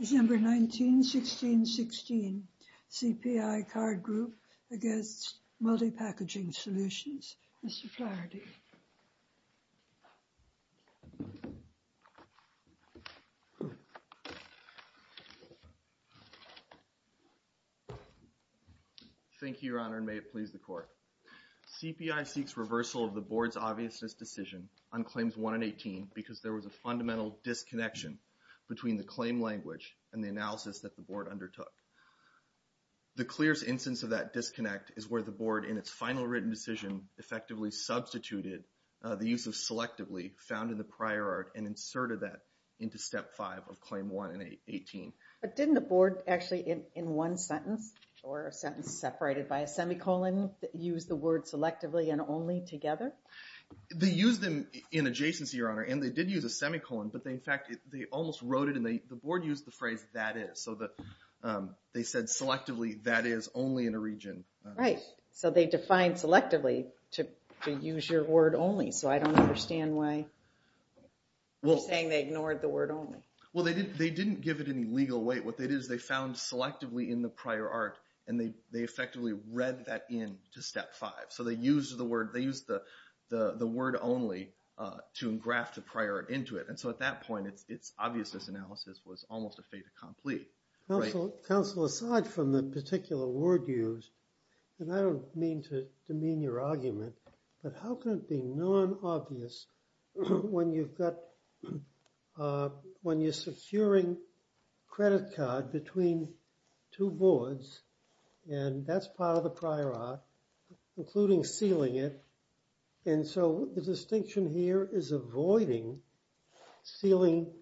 December 19, 1616 CPI Card Group v. Multi Packaging Solutions Mr. Flaherty Thank you, Your Honor, and may it please the Court. CPI seeks reversal of the Board's obviousness decision on Claims 1 and 18 because there was a fundamental disconnection between the claim language and the analysis that the Board undertook. The clearest instance of that disconnect is where the Board, in its final written decision, effectively substituted the use of selectively found in the prior art and inserted that into Step 5 of Claim 1 and 18. But didn't the Board actually in one sentence or a sentence separated by a semicolon use the word selectively and only together? They used them in adjacency, Your Honor, and they did use a semicolon, but in fact they almost wrote it and the Board used the phrase that is so that they said selectively that is only in a region. Right. So they defined selectively to use your word only. So I don't understand why you're saying they ignored the word only. Well, they didn't give it any legal weight. What they did is they found selectively in the prior art and they effectively read that in to Step 5. So they used the word only to engraft the prior art into it. And so at that point, its obviousness analysis was almost a fait accompli. Counsel, aside from the particular word used, and I don't mean to demean your argument, but how can it be non-obvious when you've got, when you're securing credit card between two boards and that's part of the prior art, including sealing it. And so the distinction here is avoiding sealing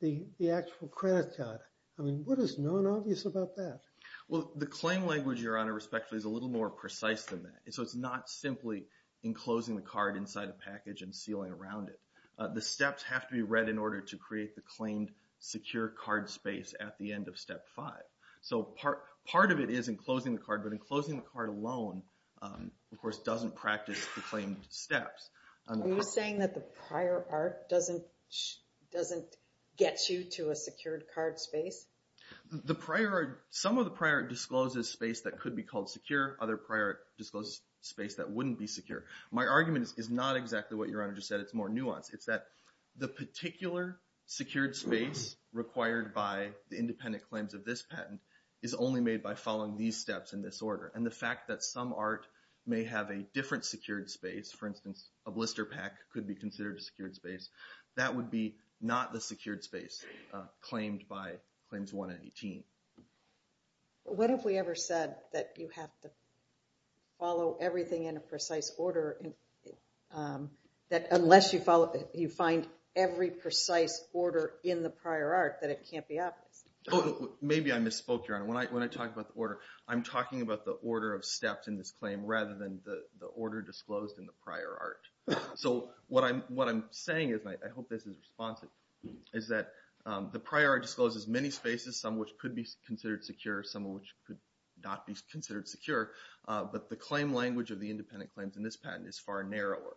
the actual credit card. I mean, what is non-obvious about that? Well, the claim language, Your Honor, respectfully, is a little more precise than that. So it's not simply enclosing the card inside a package and sealing around it. The steps have to be read in order to create the claimed secure card space at the end of Step 5. So part of it is enclosing the card, but enclosing the card alone, of course, doesn't practice the claimed steps. Are you saying that the prior art doesn't get you to a secured card space? Some of the prior art discloses space that could be called secure. Other prior art discloses space that wouldn't be secure. My argument is not exactly what Your Honor just said. It's more nuanced. It's that the particular secured space required by the independent claims of this patent is only made by following these steps in this order. And the fact that some art may have a different secured space, for instance, a blister pack could be considered a secured space. That would be not the secured space claimed by Claims 1 and 18. What if we ever said that you have to follow everything in a precise order, that unless you find every precise order in the prior art, that it can't be obvious? Oh, maybe I misspoke, Your Honor. When I talk about the order, I'm talking about the order of steps in this claim rather than the order disclosed in the prior art. So what I'm saying is, and I hope this is responsive, is that the prior art discloses many spaces, some of which could be considered secure, some of which could not be considered secure. But the claim language of the independent claims in this patent is far narrower.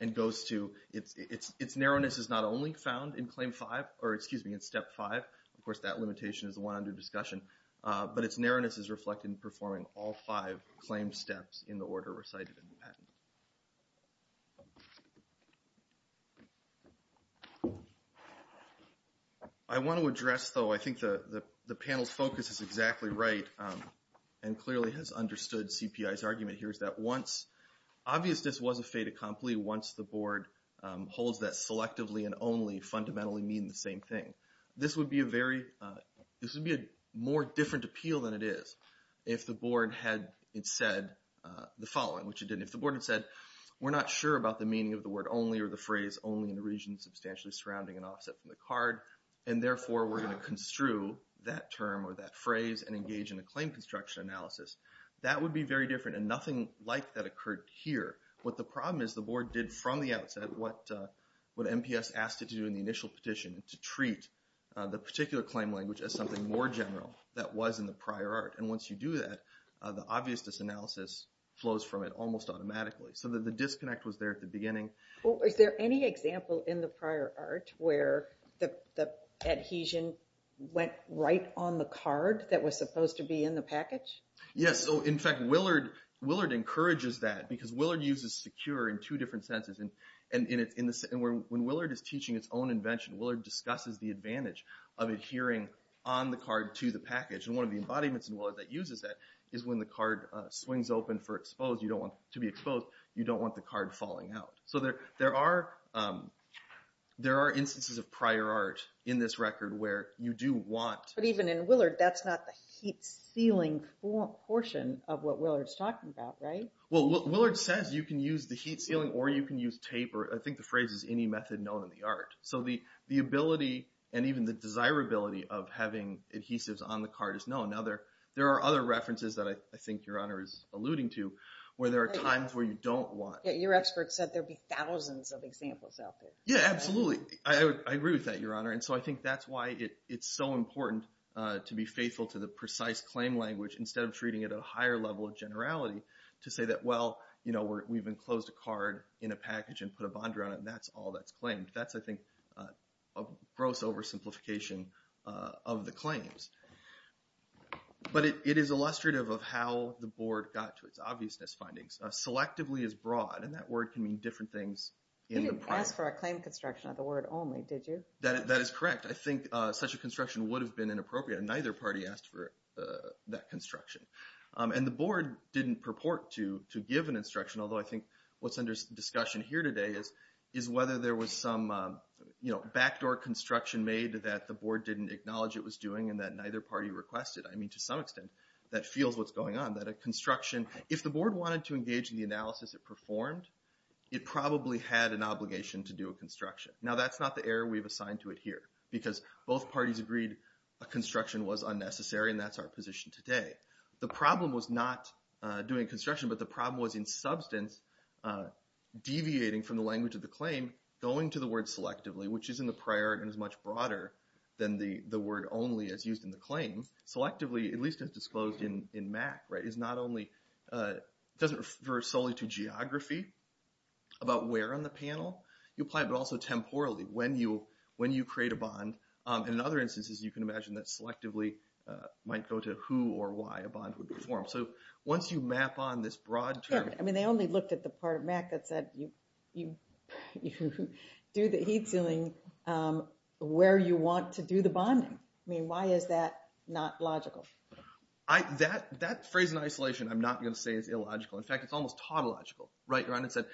And goes to, its narrowness is not only found in Step 5. Of course, that limitation is the one under discussion. But its narrowness is reflected in performing all five claim steps in the order recited in the patent. I want to address, though, I think the panel's focus is exactly right, and clearly has understood CPI's argument here, is that once, obvious this was a fait accompli, once the board holds that selectively and only fundamentally mean the same thing. This would be a very, this would be a more different appeal than it is if the board had said the following, which it didn't. If the board had said, we're not sure about the meaning of the word only or the phrase only in the region substantially surrounding and offset from the card. And therefore, we're going to construe that term or that phrase and engage in a claim construction analysis. That would be very different and nothing like that occurred here. What the problem is, the board did from the outset, what MPS asked it to do in the initial petition, to treat the particular claim language as something more general that was in the prior art. And once you do that, the obvious disanalysis flows from it almost automatically. So the disconnect was there at the beginning. Well, is there any example in the prior art where the adhesion went right on the card that was supposed to be in the package? Yes, so in fact, Willard encourages that because Willard uses secure in two different senses. And when Willard is teaching its own invention, Willard discusses the advantage of adhering on the card to the package. And one of the embodiments in Willard that uses that is when the card swings open for exposed. You don't want to be exposed. You don't want the card falling out. So there are instances of prior art in this record where you do want. But even in Willard, that's not the heat sealing portion of what Willard's talking about, right? Well, Willard says you can use the heat sealing or you can use tape, or I think the phrase is any method known in the art. So the ability and even the desirability of having adhesives on the card is known. Now there are other references that I think Your Honor is alluding to where there are times where you don't want. Yeah, your expert said there'd be thousands of examples out there. Yeah, absolutely. I agree with that, Your Honor. And so I think that's why it's so important to be faithful to the precise claim language instead of treating it at a higher level of generality to say that, well, you know, we've enclosed a card in a package and put a bond around it, and that's all that's claimed. That's, I think, a gross oversimplification of the claims. But it is illustrative of how the Board got to its obviousness findings. Selectively is broad, and that word can mean different things. You didn't ask for a claim construction of the word only, did you? That is correct. I think such a construction would have been inappropriate, and neither party asked for that construction. And the Board didn't purport to give an instruction, although I think what's under discussion here today is whether there was some backdoor construction made that the Board didn't acknowledge it was doing and that neither party requested. I mean, to some extent, that feels what's going on. That a construction, if the Board wanted to engage in the analysis it performed, it probably had an obligation to do a construction. Now, that's not the error we've assigned to it here because both parties agreed a construction was unnecessary, and that's our position today. The problem was not doing construction, but the problem was, in substance, deviating from the language of the claim, going to the word selectively, which is in the prior and is much broader than the word only as used in the claim. Selectively, at least as disclosed in MAC, doesn't refer solely to geography about where on the panel. You apply it, but also temporally, when you create a bond. And in other instances, you can imagine that selectively might go to who or why a bond would be formed. So, once you map on this broad term... Yeah, I mean, they only looked at the part of MAC that said, you do the heat sealing where you want to do the bonding. I mean, why is that not logical? That phrase in isolation, I'm not going to say is illogical. In fact, it's almost tautological. Right, Rhonda said,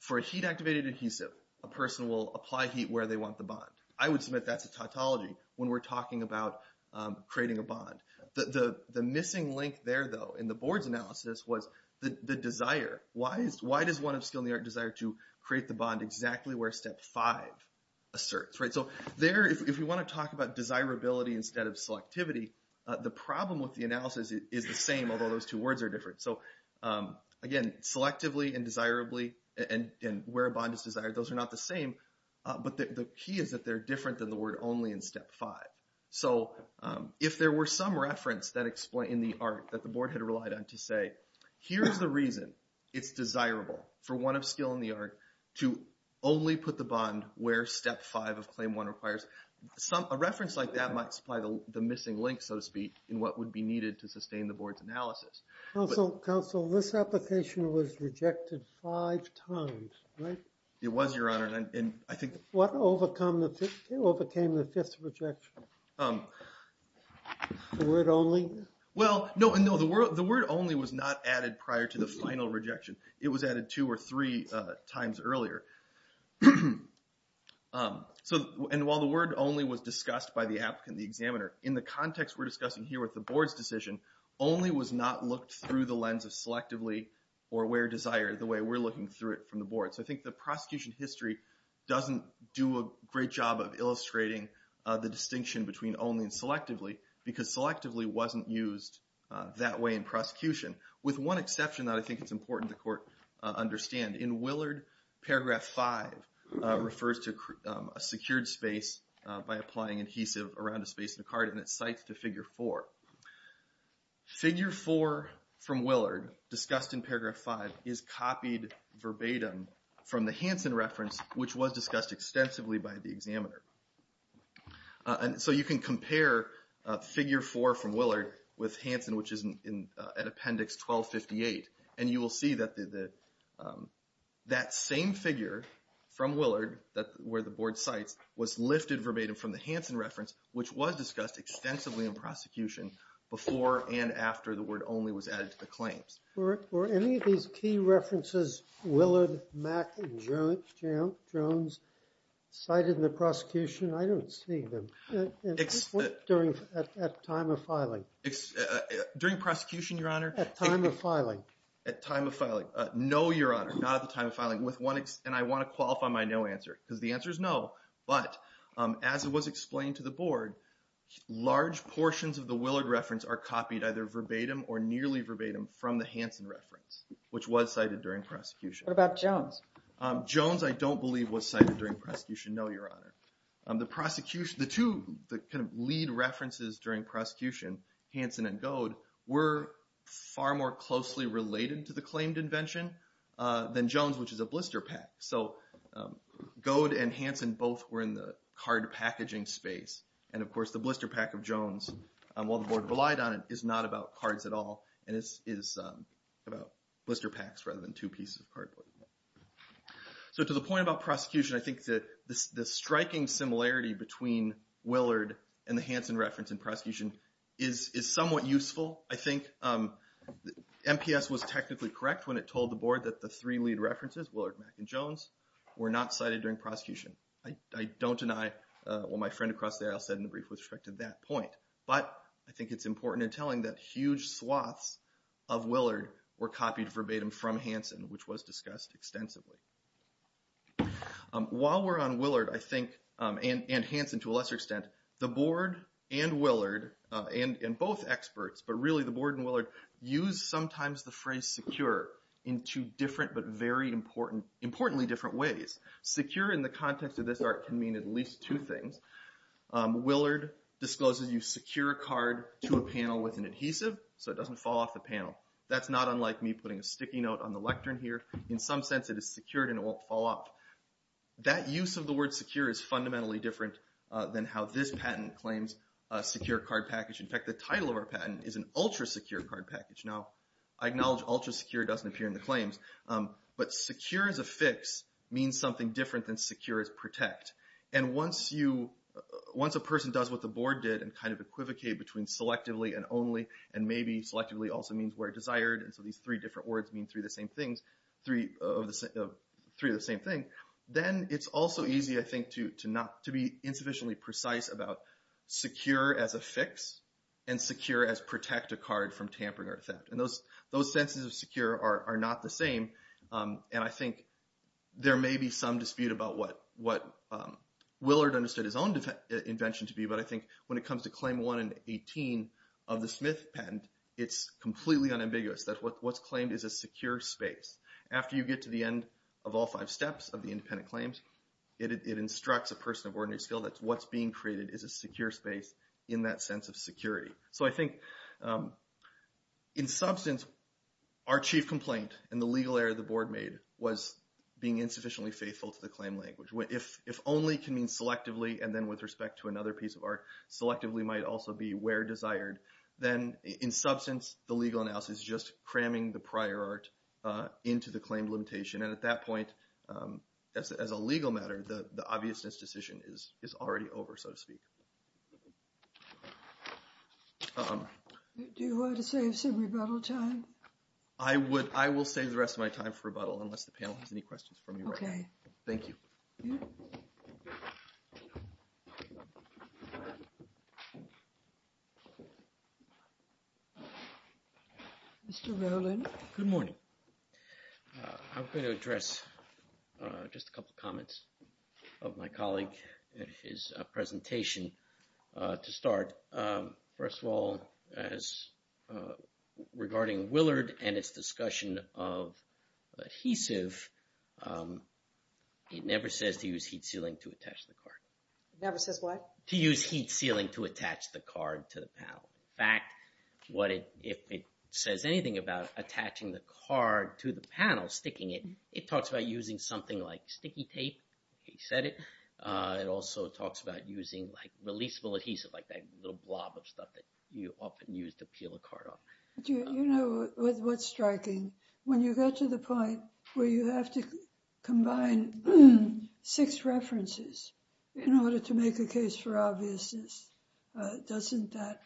for a heat-activated adhesive, a person will apply heat where they want the bond. I would submit that's a tautology when we're talking about creating a bond. The missing link there, though, in the board's analysis was the desire. Why does one of skill in the art desire to create the bond exactly where step five asserts, right? So, there, if you want to talk about desirability instead of selectivity, the problem with the analysis is the same, although those two words are different. So, again, selectively and desirably and where a bond is desired, those are not the same. But the key is that they're different than the word only in step five. So, if there were some reference in the art that the board had relied on to say, here's the reason it's desirable for one of skill in the art to only put the bond where step five of claim one requires. A reference like that might supply the missing link, so to speak, in what would be needed to sustain the board's analysis. Counsel, this application was rejected five times, right? It was, Your Honor, and I think... What overcame the fifth rejection? The word only? Well, no, the word only was not added prior to the final rejection. It was added two or three times earlier. So, and while the word only was discussed by the applicant, the examiner, in the context we're discussing here with the board's decision, only was not looked through the lens of selectively or where desired, the way we're looking through it from the board. So, I think the prosecution history doesn't do a great job of illustrating the distinction between only and selectively, because selectively wasn't used that way in prosecution, with one exception that I think it's important the court understand. In Willard, paragraph five refers to a secured space by applying adhesive around a space in the card, and it cites to figure four. Figure four from Willard, discussed in paragraph five, is copied verbatim from the Hansen reference, which was discussed extensively by the examiner. So, you can compare figure four from Willard with Hansen, which is at appendix 1258, and you will see that that same figure from Willard, where the board cites, was lifted verbatim from the Hansen reference, which was discussed extensively in prosecution before and after the word only was added to the claims. Were any of these key references, Willard, Mack, and Jones, cited in the prosecution? I don't see them. During, at time of filing. During prosecution, your honor. At time of filing. At time of filing. No, your honor, not at the time of filing. With one, and I want to qualify my no answer, because the answer is no, but as it was explained to the board, large portions of the Willard reference are copied either verbatim or nearly verbatim from the Hansen reference, which was cited during prosecution. What about Jones? Jones, I don't believe was cited during prosecution. No, your honor. The prosecution, the two, the kind of lead references during prosecution, Hansen and Goad, were far more closely related to the claimed invention than Jones, which is a blister pack. So, Goad and Hansen both were in the card packaging space. And of course, the blister pack of Jones, while the board relied on it, is not about cards at all, and is about blister packs rather than two pieces of cardboard. So, to the point about prosecution, I think that the striking similarity between Willard and the Hansen reference in prosecution is somewhat useful. I think MPS was technically correct when it told the board that the three lead references, Willard, Mack, and Jones, were not cited during prosecution. I don't deny what my friend across the aisle said in the brief with respect to that point. But, I think it's important in telling that huge swaths of Willard were copied verbatim from Hansen, which was discussed extensively. While we're on Willard, I think, and Hansen to a lesser extent, the board and Willard, and both experts, but really the board and Willard, use sometimes the phrase secure in two different but very important, importantly different ways. Secure in the context of this art can mean at least two things. Willard discloses you secure a card to a panel with an adhesive so it doesn't fall off the panel. That's not unlike me putting a sticky note on the lectern here. In some sense, it is secured and it won't fall off. That use of the word secure is fundamentally different than how this patent claims a secure card package. In fact, the title of our patent is an ultra secure card package. Now, I acknowledge ultra secure doesn't appear in the claims, but secure as a fix means something different than secure as protect. And once a person does what the board did and kind of equivocate between selectively and only, and maybe selectively also means where desired, and so these three different words mean three of the same thing, then it's also easy, I think, to be insufficiently precise about secure as a fix and secure as protect a card from tampering or theft. And those senses of secure are not the same. And I think there may be some dispute about what Willard understood his own invention to be, but I think when it comes to claim one and 18 of the Smith patent, it's completely unambiguous that what's claimed is a secure space. After you get to the end of all five steps of the independent claims, it instructs a person of ordinary skill that what's being created is a secure space in that sense of security. So I think in substance, our chief complaint and the legal error the board made was being insufficiently faithful to the claim language. If only can mean selectively and then with respect to another piece of art, selectively might also be where desired, then in substance, the legal analysis is just cramming the prior art into the claim limitation. And at that point, as a legal matter, the obviousness decision is already over, so to speak. Do you want to save some rebuttal time? I will save the rest of my time for rebuttal unless the panel has any questions from you. Okay. Thank you. Mr. Rowland. Good morning. I'm going to address just a couple of comments of my colleague at his presentation to start. First of all, as regarding Willard and its discussion of adhesive, it never says to use heat sealing to attach the card. It never says what? To use heat sealing to attach the card to the panel. In fact, if it says anything about attaching the card to the panel, sticking it, it talks about using something like sticky tape. He said it. It also talks about using like releasable adhesive, like that little blob of stuff that you often use to peel a card off. You know what's striking? When you get to the point where you have to combine six references in order to make a case for obviousness, doesn't that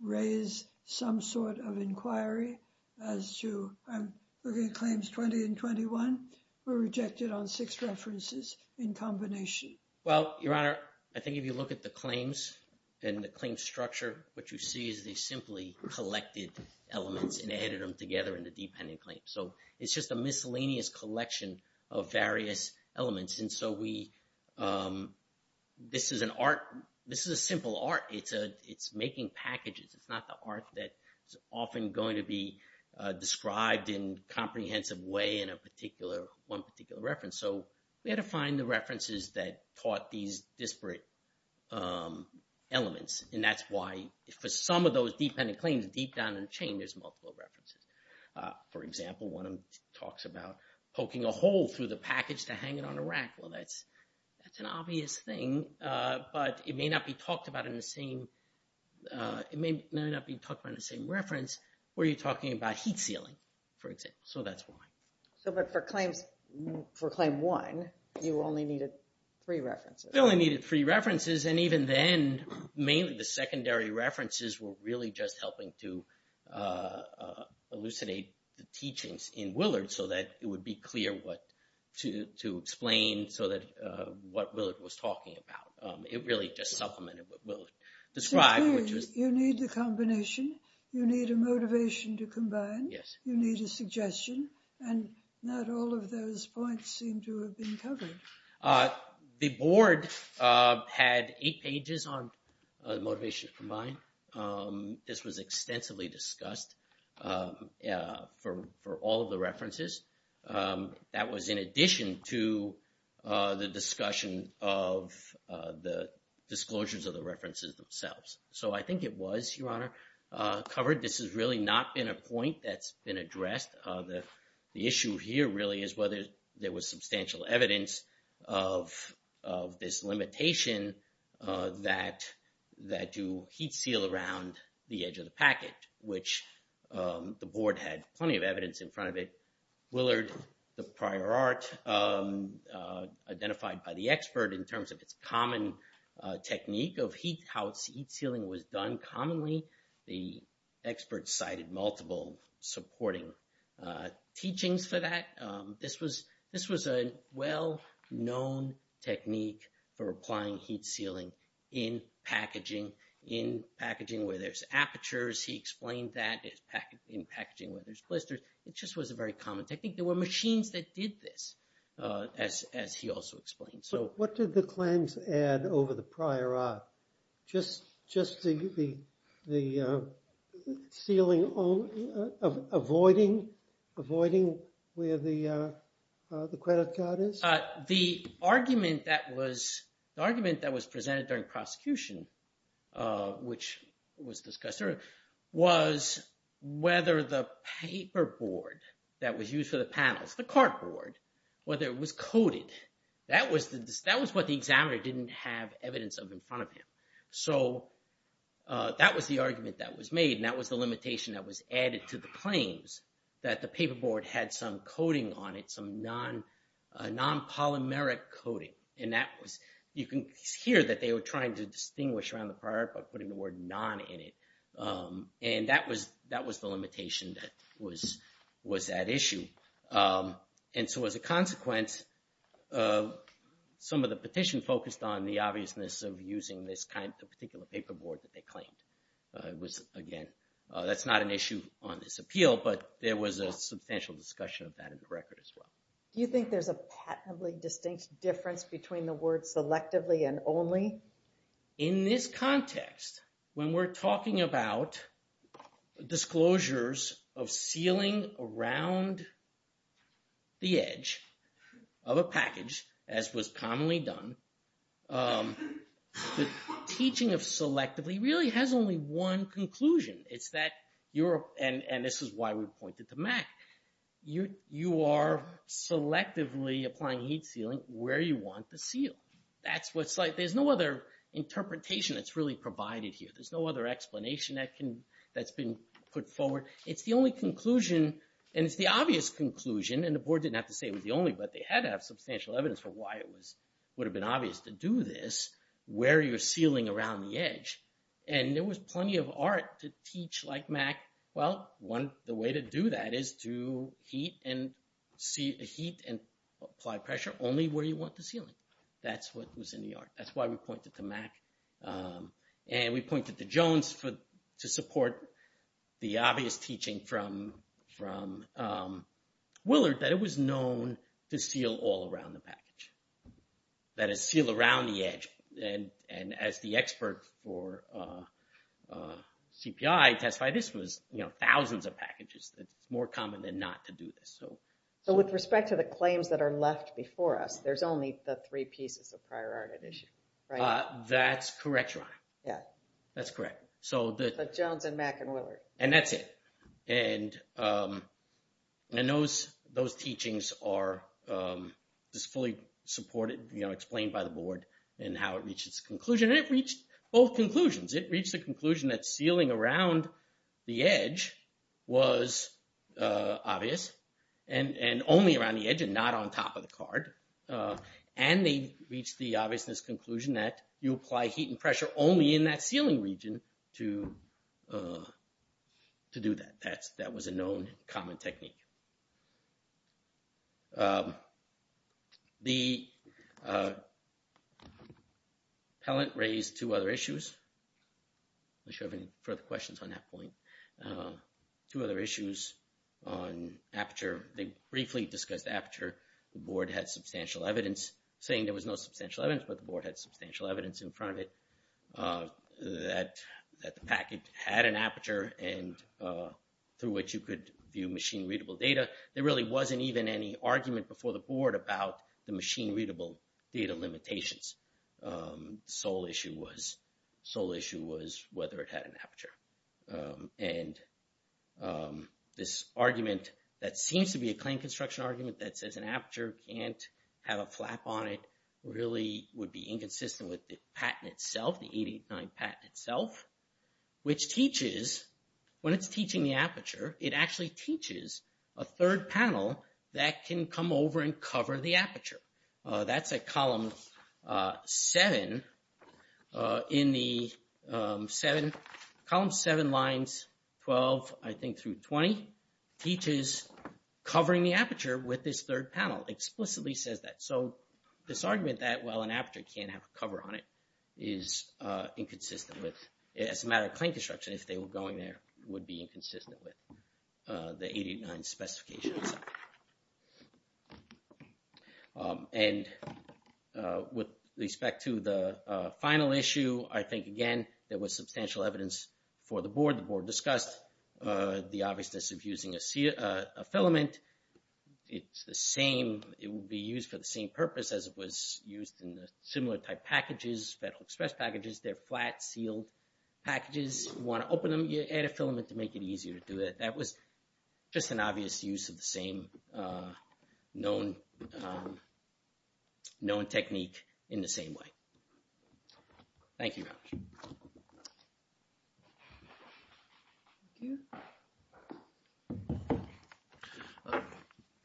raise some sort of inquiry as to I'm looking at claims 20 and 21 were rejected on six references in combination? Well, Your Honor, I think if you look at the claims and the claim structure, what you see is they simply collected elements and added them together in the dependent claim. So it's just a miscellaneous collection of various elements. And so this is an art. This is a simple art. It's making packages. It's not the art that is often going to be described in a comprehensive way in one particular reference. So we had to find the references that taught these disparate elements. And that's why for some of those dependent claims deep down in the chain, there's multiple references. For example, one of them talks about poking a hole through the package to hang it on a rack. Well, that's an obvious thing, but it may not be talked about in the same reference where you're talking about heat sealing, for example. So that's why. So but for claim one, you only needed three references. You only needed three references. And even then, mainly the secondary references were really just helping to elucidate the teachings in Willard so that it would be clear what to explain so that what Willard was talking about. It really just supplemented what Willard described. So really, you need the combination. You need a motivation to combine. Yes. You need a suggestion. And not all of those points seem to have been covered. The board had eight pages on motivation to combine. This was extensively discussed for all of the references. That was in addition to the discussion of the disclosures of the references themselves. So I think it was, Your Honor, covered. This has really not been a point that's been addressed. The issue here really is whether there was substantial evidence of this limitation that you heat seal around the edge of the packet, which the board had plenty of evidence in front of it. Willard, the prior art identified by the expert in terms of its common technique of heat, how its heat sealing was done commonly. The expert cited multiple supporting teachings for that. This was a well-known technique for applying heat sealing in packaging, in packaging where there's apertures. He explained that in packaging where there's blisters. It just was a very common technique. There were machines that did this, as he also explained. So what did the claims add over the prior art? Just the sealing, avoiding where the credit card is? The argument that was presented during prosecution, which was discussed earlier, was whether the paper board that was used for the panels, the cardboard, whether it was coded, that was what the examiner didn't have evidence of in front of him. So that was the argument that was made. And that was the limitation that was added to the claims that the paper board had some coating on it, some non-polymeric coating. And that was, you can hear that they were trying to distinguish around the prior art by putting the word non in it. And that was the limitation that was at issue. And so as a consequence, some of the petition focused on the obviousness of using this particular paper board that they claimed. That's not an issue on this appeal, but there was a substantial discussion of that in the record as well. Do you think there's a patently distinct difference between the word selectively and only? In this context, when we're talking about disclosures of sealing around the edge of a package, as was commonly done, the teaching of selectively really has only one conclusion. It's that, and this is why we pointed to Mack, you are selectively applying heat sealing where you want the seal. That's what's like, there's no other interpretation that's really provided here. There's no other explanation that's been put forward. It's the only conclusion, and it's the obvious conclusion, and the board didn't have to say it was the only, but they had to have substantial evidence for why it would have been obvious to do this where you're sealing around the edge. And there was plenty of art to teach like Mack. Well, the way to do that is to heat and apply pressure only where you want the sealing. That's what was in the art. That's why we pointed to Mack. And we pointed to Jones to support the obvious teaching from Willard that it was known to seal all around the package, that is seal around the edge. And as the expert for CPI testified, this was thousands of packages. It's more common than not to do this. So with respect to the claims that are left before us, there's only the three pieces of prior art at issue, right? That's correct, Ron. Yeah. That's correct. So the Jones and Mack and Willard. And that's it. And those teachings are fully supported, you know, explained by the board and how it reached its conclusion. It reached both conclusions. It reached the conclusion that sealing around the edge was obvious and only around the edge and not on top of the card. And they reached the obviousness conclusion that you apply heat and pressure only in that sealing region to do that. That was a known common technique. The appellant raised two other issues. I'm not sure if any further questions on that point. Two other issues on Aperture. They briefly discussed Aperture. The board had substantial evidence saying there was no substantial evidence, but the board had substantial evidence in front of it that the package had an Aperture and through which you could view machine-readable data. There really wasn't even any argument before the board about the machine-readable data limitations. Sole issue was whether it had an Aperture. And this argument that seems to be a claim construction argument that says an Aperture can't have a flap on it really would be inconsistent with the patent itself, the 889 patent itself, which teaches, when it's teaching the Aperture, it actually teaches a third panel that can come over and cover the Aperture. That's at column 7 in the 7, column 7 lines 12, I think through 20, teaches covering the Aperture with this third panel. Explicitly says that. So this argument that, well, an Aperture can't have a cover on it is inconsistent with, as a matter of claim construction, if they were going there, would be inconsistent with the 889 specifications. And with respect to the final issue, I think, again, there was substantial evidence for the board, the board discussed the obviousness of using a filament. It's the same, it would be used for the same purpose as it was used in the similar type packages, Federal Express packages, they're flat sealed packages. You want to open them, you add a filament to make it easier to do it. That was just an obvious use of the same known, known technique in the same way. Thank you.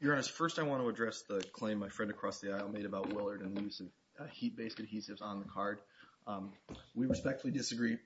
Your Honor, first, I want to address the claim my friend across the aisle made about Willard and the use of heat-based adhesives on the card. We respectfully disagree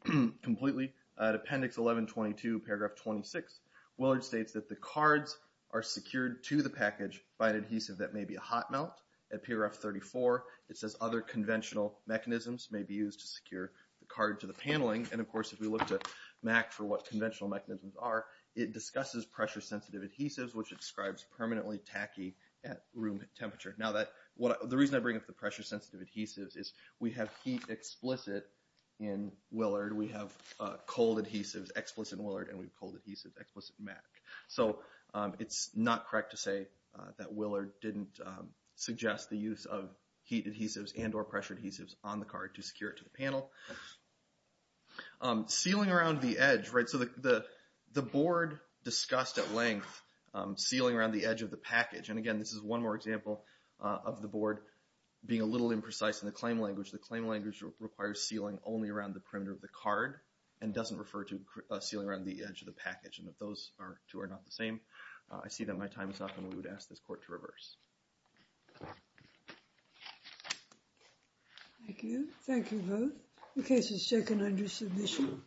completely. At Appendix 1122, paragraph 26, Willard states that the cards are secured to the package by an adhesive that may be a hot melt. At PRF 34, it says other conventional mechanisms may be used to secure the card to the paneling. And of course, if we look to MAC for what conventional mechanisms are, it discusses pressure-sensitive adhesives, which describes permanently tacky at room temperature. The reason I bring up the pressure-sensitive adhesives is we have heat explicit in Willard, we have cold adhesives explicit in Willard, and we have cold adhesives explicit in MAC. So it's not correct to say that Willard didn't suggest the use of heat adhesives and or pressure adhesives on the card to secure it to the panel. Sealing around the edge, right? So the board discussed at length sealing around the edge of the package. And again, this is one more example of the board being a little imprecise in the claim language. The claim language requires sealing only around the perimeter of the card and doesn't refer to a ceiling around the edge of the package. And if those two are not the same, I see that my time is up and we would ask this court to reverse. Thank you. Thank you both. The case is taken under submission.